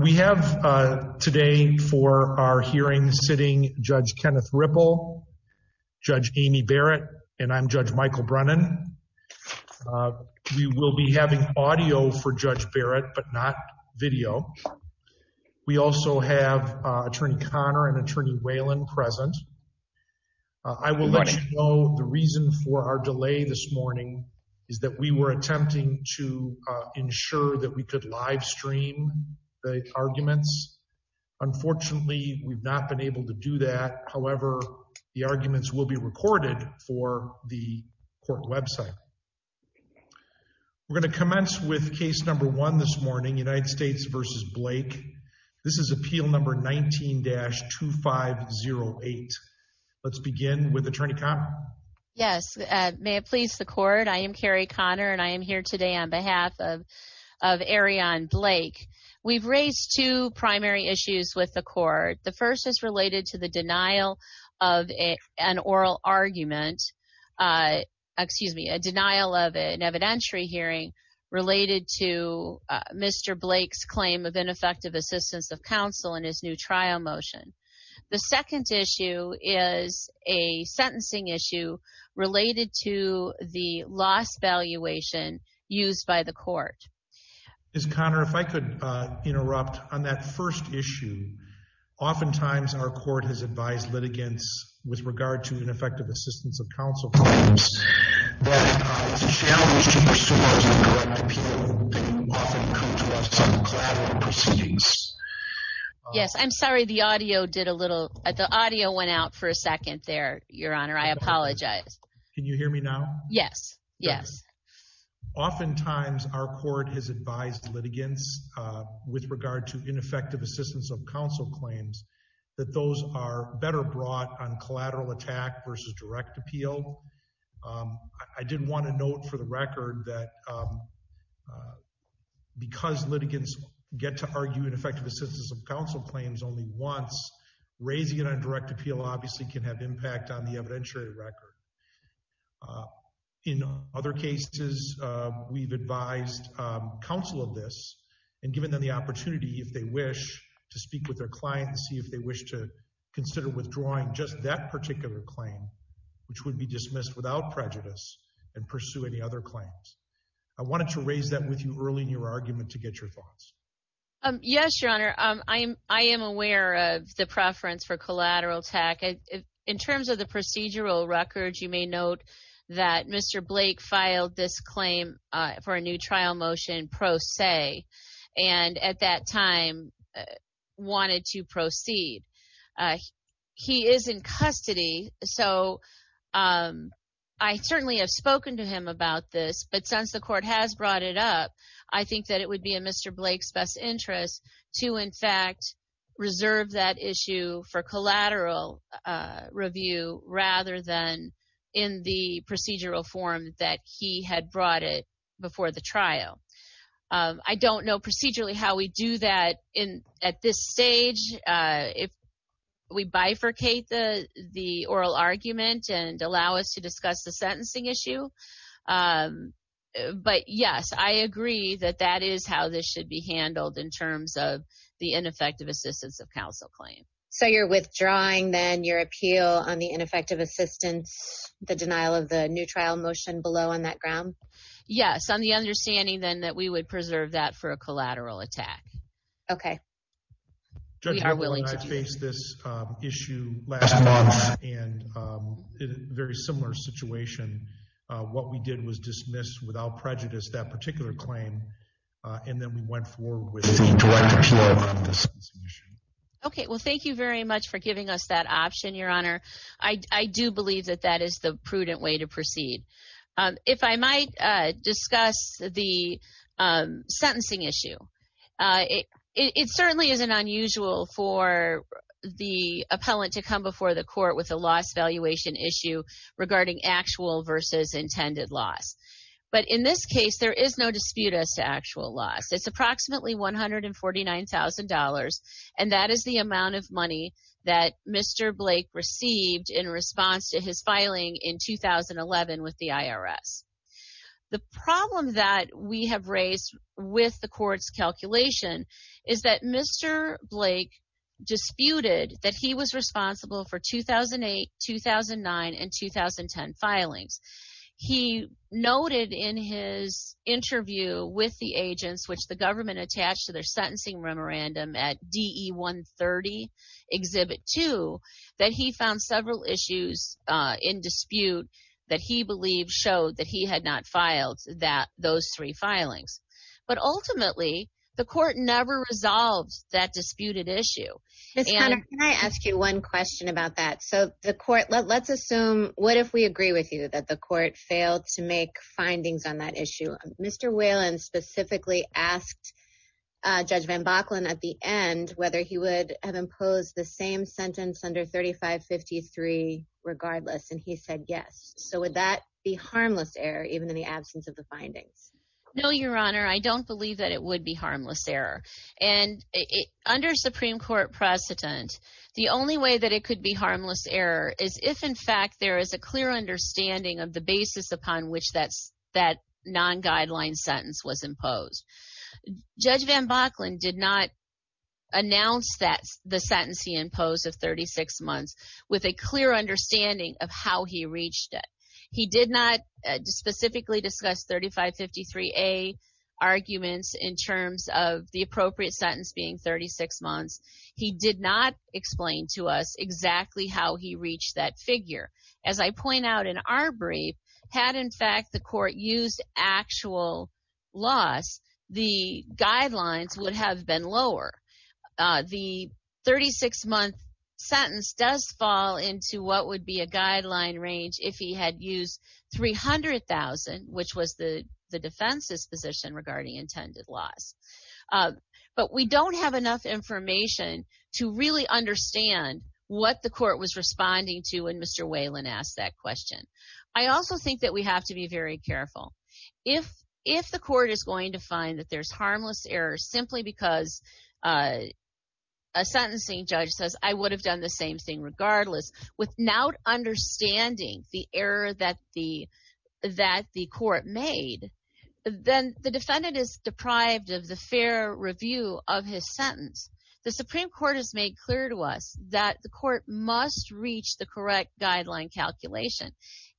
We have today for our hearing sitting Judge Kenneth Ripple, Judge Amy Barrett, and I'm Judge Michael Brennan. We will be having audio for Judge Barrett but not video. We also have Attorney Connor and Attorney Whalen present. I will let you know the reason for our delay this arguments. Unfortunately, we've not been able to do that. However, the arguments will be recorded for the court website. We're going to commence with case number one this morning, United States v. Blake. This is appeal number 19-2508. Let's begin with Attorney Connor. Yes, may it please the court. I am Carrie Connor and I am here today on behalf of Airrion Blake. We've raised two primary issues with the court. The first is related to the denial of an oral argument, excuse me, a denial of an evidentiary hearing related to Mr. Blake's claim of ineffective assistance of counsel in his new trial motion. The second issue is a sentencing issue related to the loss valuation used by the court. Ms. Connor, if I could interrupt on that first issue, oftentimes our court has advised litigants with regard to ineffective assistance of counsel. Yes, I'm sorry the audio did a little, the audio went out for a second there, your honor. I apologize. Can you hear me now? Yes, yes. Oftentimes our court has advised litigants with regard to ineffective assistance of counsel claims that those are better brought on collateral attack versus direct appeal. I did want to note for the record that because litigants get to argue ineffective assistance of counsel claims only once, raising it on direct appeal obviously can have impact on the evidentiary record. In other cases, we've advised counsel of this and given them the opportunity if they wish to speak with their client and see if they wish to consider withdrawing just that particular claim, which would be dismissed without prejudice and pursue any other claims. I wanted to raise that with you early in your argument to get your thoughts. Yes, your honor. I am aware of the preference for collateral attack. In terms of the procedural records, you may note that Mr. Blake filed this claim for a new trial motion pro se and at that time wanted to proceed. He is in custody, so I certainly have spoken to him about this, but since the court has brought it up, I think it would be in Mr. Blake's best interest to in fact reserve that issue for collateral review rather than in the procedural form that he had brought it before the trial. I don't know procedurally how we do that at this stage. If we bifurcate the oral argument and allow us to discuss the sentencing issue, but yes, I agree that that is how this should be handled in terms of the ineffective assistance of counsel claim. So you're withdrawing then your appeal on the ineffective assistance, the denial of the new trial motion below on that ground? Yes, on the understanding then that we would preserve that for a collateral attack. Okay, we are willing to face this issue last month and a very similar situation. What we did was dismiss without prejudice that particular claim and then we went forward with Okay, well, thank you very much for giving us that option, your honor. I do believe that that is the prudent way to proceed. If I might discuss the issue. It certainly isn't unusual for the appellant to come before the court with a loss valuation issue regarding actual versus intended loss. But in this case, there is no dispute as to actual loss. It's approximately $149,000 and that is the amount of money that Mr. Blake received in response to his filing in 2011 with the IRS. The problem that we have raised with the court's calculation is that Mr. Blake disputed that he was responsible for 2008, 2009, and 2010 filings. He noted in his interview with the agents, which the government attached to their sentencing memorandum at DE 130, Exhibit 2, that he found several issues in dispute that he believed showed that he had not filed that those three filings. But ultimately, the court never resolved that disputed issue. Ms. Conner, can I ask you one question about that? So the court, let's assume, what if we agree with you that the court failed to make findings on that issue? Mr. Whalen specifically asked Judge VanBakken at the end whether he would have imposed the same sentence under 3553 regardless, and he said yes. So would that be harmless error even in the absence of the findings? No, Your Honor, I don't believe that it would be harmless error. And under Supreme Court precedent, the only way that it could be harmless error is if, in fact, there is a clear understanding of the basis upon which that non-guideline sentence was imposed. Judge VanBakken did not announce the sentence he imposed of 36 months with a clear understanding of how he reached it. He did not specifically discuss 3553A arguments in terms of the appropriate sentence being 36 months. He did not explain to us exactly how he reached that figure. As I point out in our brief, had, in fact, the court used actual laws, the guidelines would have been lower. The 36-month sentence does fall into what would be a guideline range if he had used 300,000, which was the defense's position regarding intended laws. But we don't have enough information to really understand what the court was responding to when Mr. Whalen asked that question. I also think that we have to be very careful. If the court is going to find that there's harmless error simply because a sentencing judge says I would have done the same thing regardless without understanding the error that the court made, then the defendant is deprived of the court must reach the correct guideline calculation.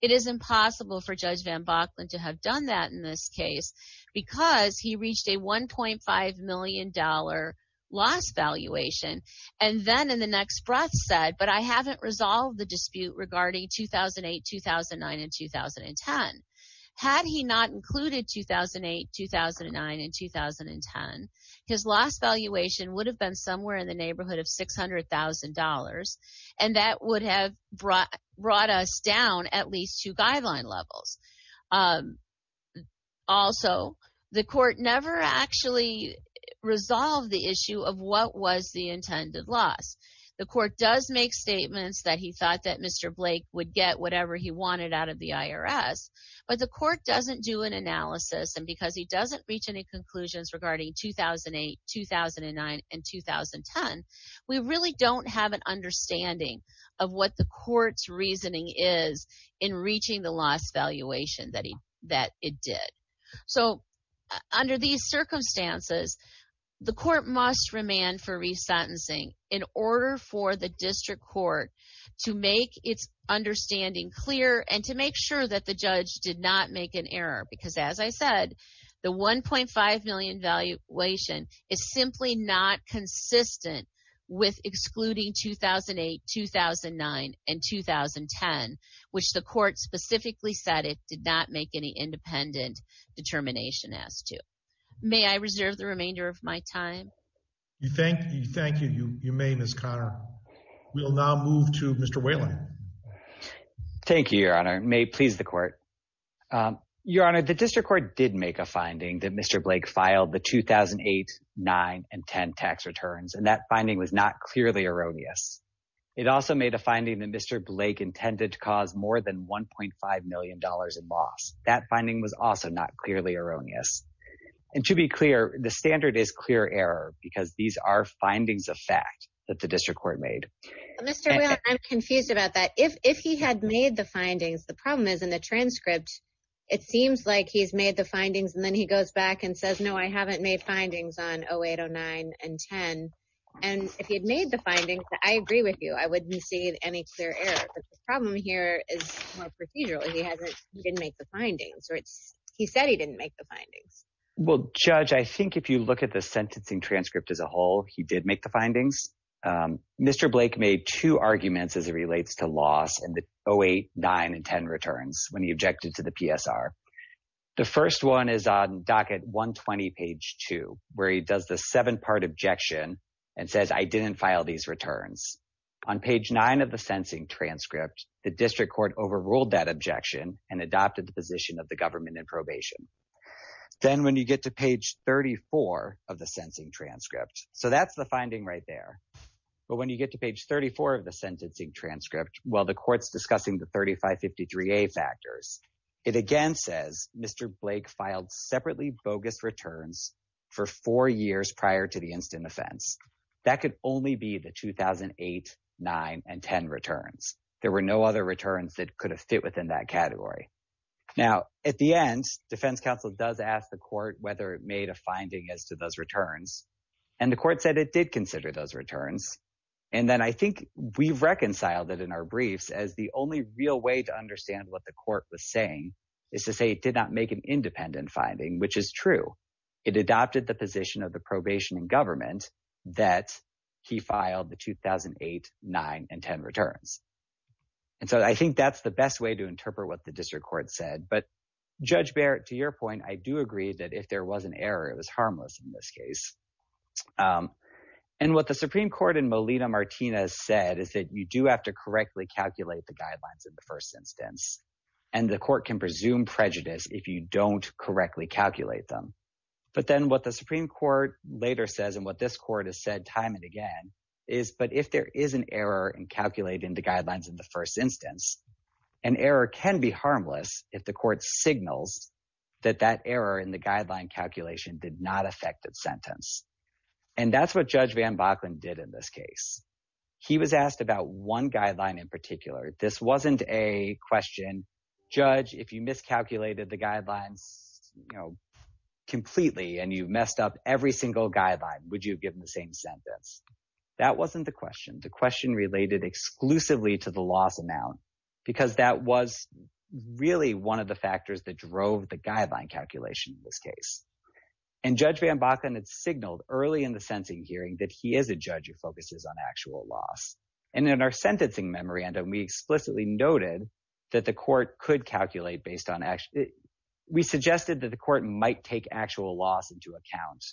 It is impossible for Judge VanBakken to have done that in this case because he reached a $1.5 million loss valuation and then in the next breath said, but I haven't resolved the dispute regarding 2008, 2009, and 2010. Had he not included 2008, 2009, and 2010, his loss valuation would have been somewhere in the neighborhood of $600,000. And that would have brought us down at least two guideline levels. Also, the court never actually resolved the issue of what was the intended loss. The court does make statements that he thought that Mr. Blake would get whatever he wanted out of the IRS, but the court doesn't do an analysis and because he doesn't reach any conclusions regarding 2008, 2009, and 2010, we really don't have an understanding of what the court's reasoning is in reaching the loss valuation that it did. So, under these circumstances, the court must remand for resentencing in order for the district court to make its understanding clear and to make sure that the judge did not make an error because as I said, the $1.5 million valuation is simply not consistent with excluding 2008, 2009, and 2010, which the court specifically said it did not make any independent determination as to. May I reserve the remainder of my time? You may, Ms. Conner. We'll now move to Mr. Whalen. Thank you, Your Honor. May it please the court. Your Honor, the district court did make a finding that Mr. Blake filed the 2008, 2009, and 2010 tax returns and that finding was not clearly erroneous. It also made a finding that Mr. Blake intended to cause more than $1.5 million in loss. That finding was also not clearly erroneous and to be clear, the standard is clear error because these are findings of fact that the district court made. Mr. Whalen, I'm confused about that. If he had made the findings, the problem is in the transcript, it seems like he's made the findings and then he goes back and says, no, I haven't made findings on 2008, 2009, and 2010, and if he had made the findings, I agree with you. I wouldn't see any clear error, but the problem here is more procedural. He hasn't, he didn't make the findings or he said he didn't make the findings. Well, Judge, I think if you look at the sentencing transcript as a whole, he did make the findings. Mr. Blake made two arguments as it relates to loss and the 2008, 2009, and 2010 returns when he objected to the PSR. The first one is on docket 120, page 2, where he does the seven-part objection and says, I didn't file these returns. On page 9 of the sentencing transcript, the district court overruled that objection and adopted the position of the government in probation. Then when you get to page 34 of the sentencing transcript, so that's the finding right there, but when you get to page 34 of the sentencing transcript, while the court's discussing the 3553A factors, it again says Mr. Blake filed separately bogus returns for four years prior to the instant offense. That could only be the 2008, 9, and 10 returns. There were no other returns that could have fit within that category. Now, at the end, defense counsel does ask the court whether it made a finding as to those returns, and the court said it did consider those returns, and then I think we've reconciled it in our briefs as the only real way to understand what the court was saying is to say it did not make an independent finding, which is true. It adopted the position of the probation in government that he filed the 2008, 9, and 10 returns, and so I think that's the best way to interpret what the district court said, but Judge Barrett, to your point, I do agree that if there was an error, it was harmless in this case, and what the Supreme Court in Molina-Martinez said is that you do have to correctly calculate the guidelines in the first instance, and the court can presume prejudice if you don't correctly calculate them, but then what the Supreme Court later says and what this court has said time and again is, but if there is an error in calculating the guidelines in the first instance, an error can be harmless if the court signals that that error in the guideline calculation did not affect its sentence, and that's what Judge Van Bachlen did in this case. He was asked about one guideline in particular. This wasn't a question, Judge, if you miscalculated the guidelines, you know, completely, and you messed up every single guideline, would you have given the same sentence? That wasn't the question. The question related exclusively to the loss amount, because that was really one of the factors that drove the guideline calculation in this case, and Judge Van Bachlen had signaled early in the sentencing hearing that he is a judge who focuses on actual loss, and in our sentencing memorandum, we explicitly noted that the court could calculate based on actual, we suggested that the court might take actual loss into account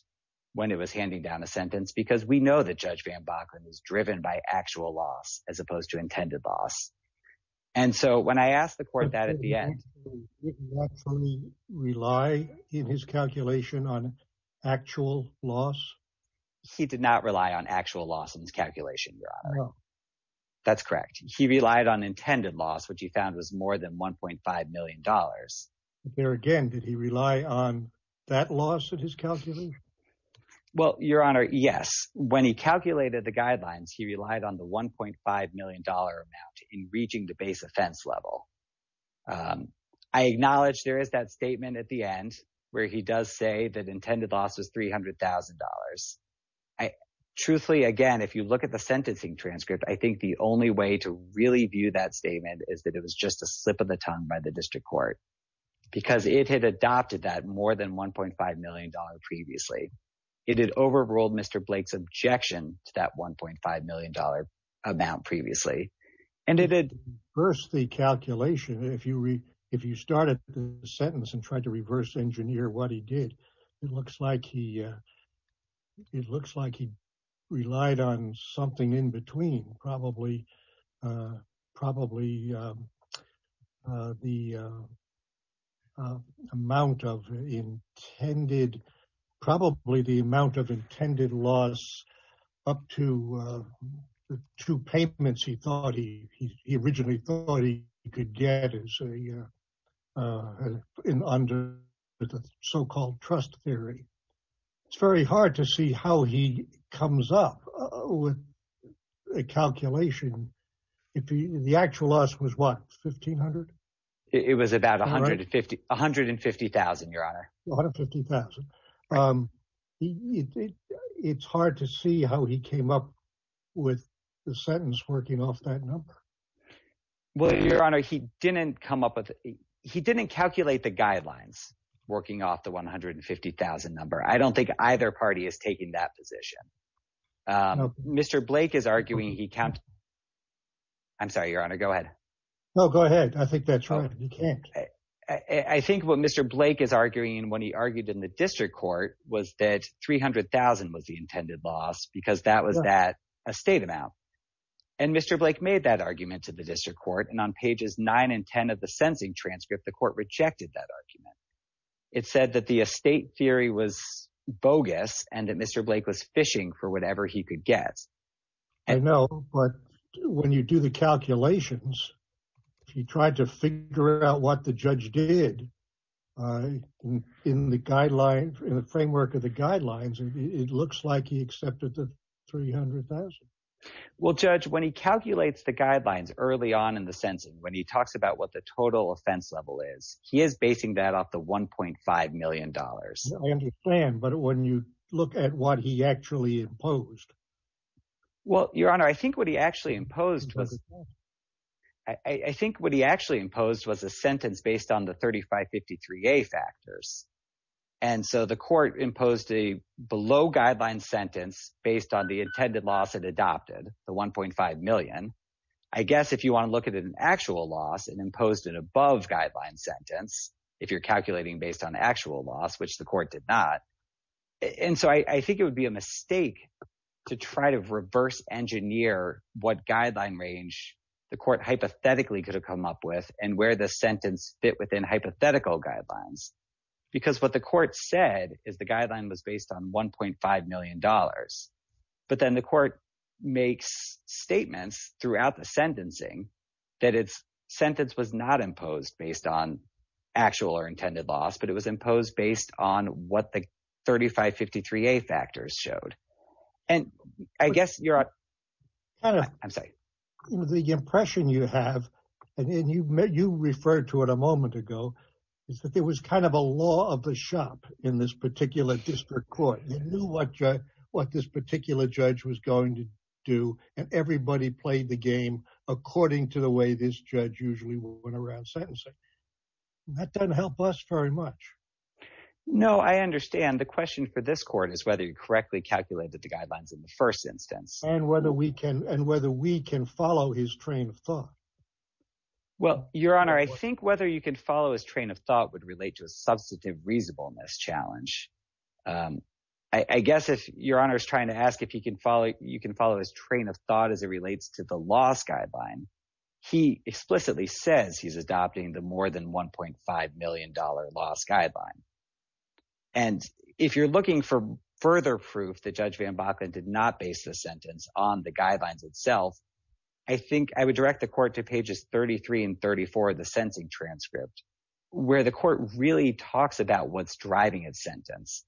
when it was handing down a sentence, because we know that Judge Van Bachlen is driven by actual loss as opposed to intended loss, and so when I asked the court that at the end, did he actually rely in his calculation on actual loss? He did not rely on actual loss in his calculation, your honor. That's correct. He relied on intended loss, which he found was more than 1.5 million dollars. There again, did he rely on that loss in his calculation? Well, your honor, yes. When he calculated the guidelines, he relied on the 1.5 million dollar amount in reaching the base offense level. I acknowledge there is that statement at the end where he does say that intended loss was 300,000 dollars. Truthfully, again, if you look at the sentencing transcript, I think the only way to really view that statement is that it was just a slip of the tongue by the district court, because it had adopted that more than 1.5 million dollars previously. It had overruled Mr. Blake's objection to that 1.5 million dollar amount previously, and it had reversed the calculation. If you read, if you started the sentence and tried to reverse engineer what he did, it looks like he, relied on something in between, probably the amount of intended, probably the amount of intended loss up to the two payments he thought he, he originally thought he could get as a, under the so-called trust theory. It's very hard to see how he comes up with a calculation. The actual loss was what, 1,500? It was about 150,000, your honor. 150,000. It's hard to see how he came up with the sentence working off that number. Well, your honor, he didn't come up with, he didn't calculate the guidelines working off the 150,000 number. I don't think either party is taking that position. Mr. Blake is arguing he counted, I'm sorry, your honor, go ahead. No, go ahead. I think that's right. You can't. I think what Mr. Blake is arguing when he argued in the district court was that 300,000 was the intended loss, because that was that, a state amount. And Mr. Blake made that argument to the district court, and on pages nine and ten of the sentencing transcript, the court rejected that argument. It said that the estate theory was bogus and that Mr. Blake was fishing for whatever he could get. I know, but when you do the calculations, if you tried to figure out what the judge did in the guideline, in the framework of the guidelines, it looks like he accepted the 300,000. Well, judge, when he calculates the offense level, he is basing that off the $1.5 million. I understand, but when you look at what he actually imposed. Well, your honor, I think what he actually imposed was, I think what he actually imposed was a sentence based on the 3553A factors. And so the court imposed a below guideline sentence based on the intended loss it adopted, the 1.5 million. I guess if you want to look at an actual loss and imposed an above guideline sentence, if you're calculating based on actual loss, which the court did not. And so I think it would be a mistake to try to reverse engineer what guideline range the court hypothetically could have come up with and where the sentence fit within hypothetical guidelines. Because what the court said is the throughout the sentencing, that it's sentence was not imposed based on actual or intended loss, but it was imposed based on what the 3553A factors showed. And I guess your honor, I'm sorry. The impression you have, and you've met, you referred to it a moment ago, is that there was kind of a law of the shop in this particular district court, knew what this particular judge was going to do. And everybody played the game according to the way this judge usually went around sentencing. That doesn't help us very much. No, I understand. The question for this court is whether you correctly calculated the guidelines in the first instance. And whether we can follow his train of thought. Well, your honor, I think whether you can follow his train of thought would relate to a substantive reasonableness challenge. I guess if your honor is trying to ask if you can follow his train of thought as it relates to the loss guideline, he explicitly says he's adopting the more than $1.5 million loss guideline. And if you're looking for further proof that Judge VanBakken did not base the sentence on the guidelines itself, I think I would direct the court to pages 33 and 34 of the tax code. He really talks about what's driving his sentence.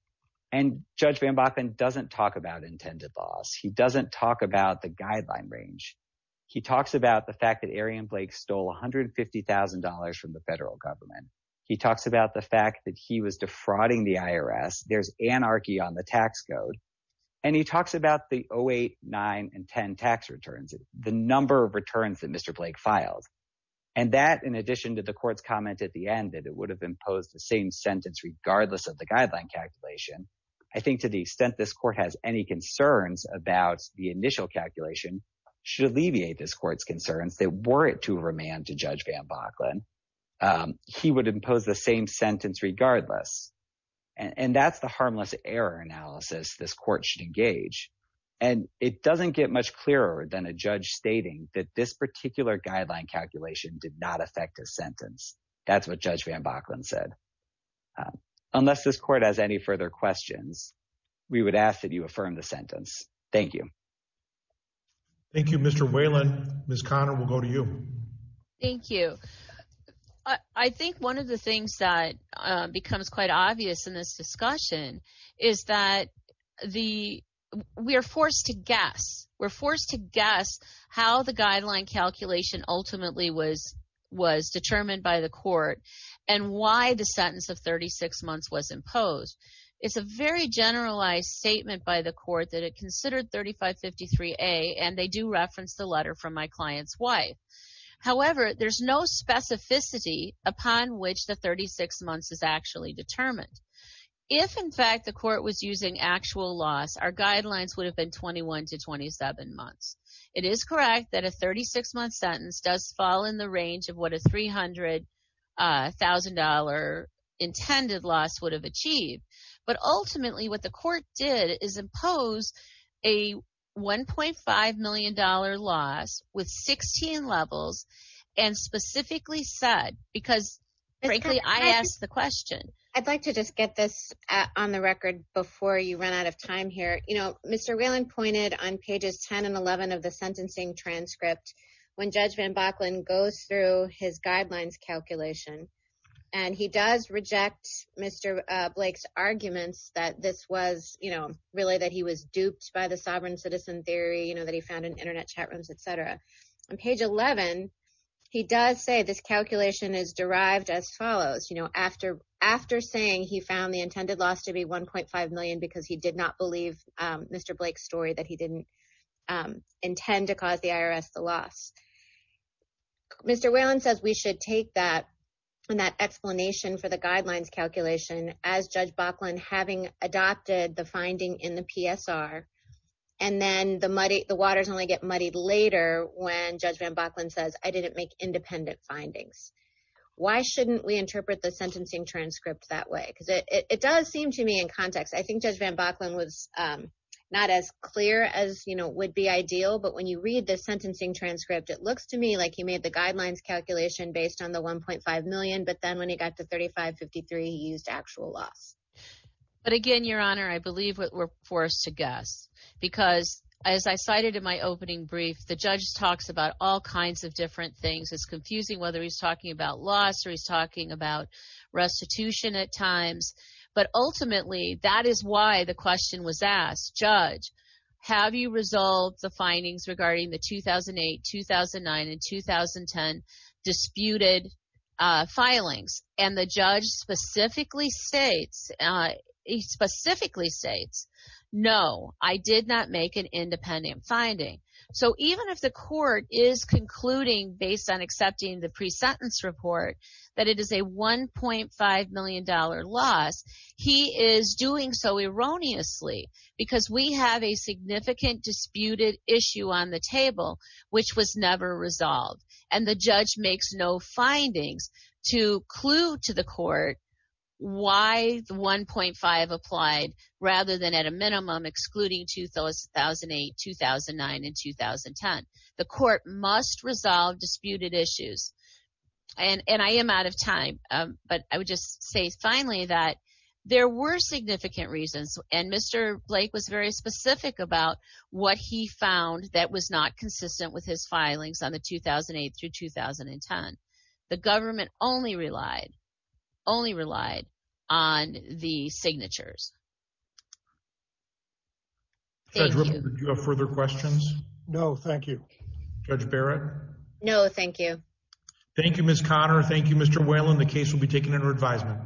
And Judge VanBakken doesn't talk about intended loss. He doesn't talk about the guideline range. He talks about the fact that Arian Blake stole $150,000 from the federal government. He talks about the fact that he was defrauding the IRS. There's anarchy on the tax code. And he talks about the 08, 09, and 10 tax returns, the number of returns that Mr. Blake filed. And that in addition to court's comment at the end that it would have imposed the same sentence regardless of the guideline calculation, I think to the extent this court has any concerns about the initial calculation should alleviate this court's concerns that were it to remand to Judge VanBakken, he would impose the same sentence regardless. And that's the harmless error analysis this court should engage. And it doesn't get much clearer than a judge stating that this particular guideline calculation did not affect his sentence. That's what Judge VanBakken said. Unless this court has any further questions, we would ask that you affirm the sentence. Thank you. Thank you, Mr. Whalen. Ms. Conner, we'll go to you. Thank you. I think one of the things that becomes quite obvious in this discussion is that we are forced to guess. We're forced to guess how the guideline calculation ultimately was determined by the court and why the sentence of 36 months was imposed. It's a very generalized statement by the court that it considered 3553A, and they do reference the letter from my client's wife. However, there's no specificity upon which the 36 months is actually determined. If, in fact, the court was using actual loss, our guidelines would have been 21 to 27 months. It is correct that a 36-month sentence does fall in the range of what a $300,000 intended loss would have achieved. But ultimately, what the court did is impose a $1.5 million loss with 16 levels and specifically said, because frankly, I asked the question. I'd like to just get this on the record before you run out of time here. Mr. Whalen pointed on pages 10 and 11 of the sentencing transcript when Judge Van Bachlen goes through his guidelines calculation, and he does reject Mr. Blake's arguments that this was really that he was duped by the sovereign citizen theory that he found in internet chat rooms, etc. On page 11, he does say this calculation is derived as from the intended loss to be $1.5 million because he did not believe Mr. Blake's story that he didn't intend to cause the IRS the loss. Mr. Whalen says we should take that and that explanation for the guidelines calculation as Judge Bachlen having adopted the finding in the PSR, and then the muddy the waters only get muddied later when Judge Van Bachlen says, I didn't make independent findings. Why shouldn't we interpret the sentencing transcript that way? Because it does seem to me in context, I think Judge Van Bachlen was not as clear as would be ideal, but when you read the sentencing transcript, it looks to me like he made the guidelines calculation based on the $1.5 million, but then when he got to $35.53, he used actual loss. But again, Your Honor, I believe what we're forced to guess, because as I cited in my opening brief, the judge talks about all kinds of different things. It's confusing whether he's talking about loss or he's talking about restitution at times, but ultimately, that is why the question was asked, Judge, have you resolved the findings regarding the 2008, 2009, and 2010 disputed filings? And the judge specifically states, specifically states, no, I did not make an independent finding. So even if the court is concluding based on accepting the pre-sentence report, that it is a $1.5 million loss, he is doing so erroneously, because we have a significant disputed issue on the table, which was never resolved. And the judge makes no findings to clue to the court why the 1.5 applied rather than at a minimum excluding 2008, 2009, and 2010. The court must resolve disputed issues. And I am out of time, but I would just say finally that there were significant reasons, and Mr. Blake was very specific about what he found that was not consistent with his filings on the 2008 through 2010. The government only relied, only relied on the signatures. Thank you. Do you have further questions? No, thank you. Judge Barrett? No, thank you. Thank you, Ms. Conner. Thank you, Mr. Whalen. The case will be taken under advisement.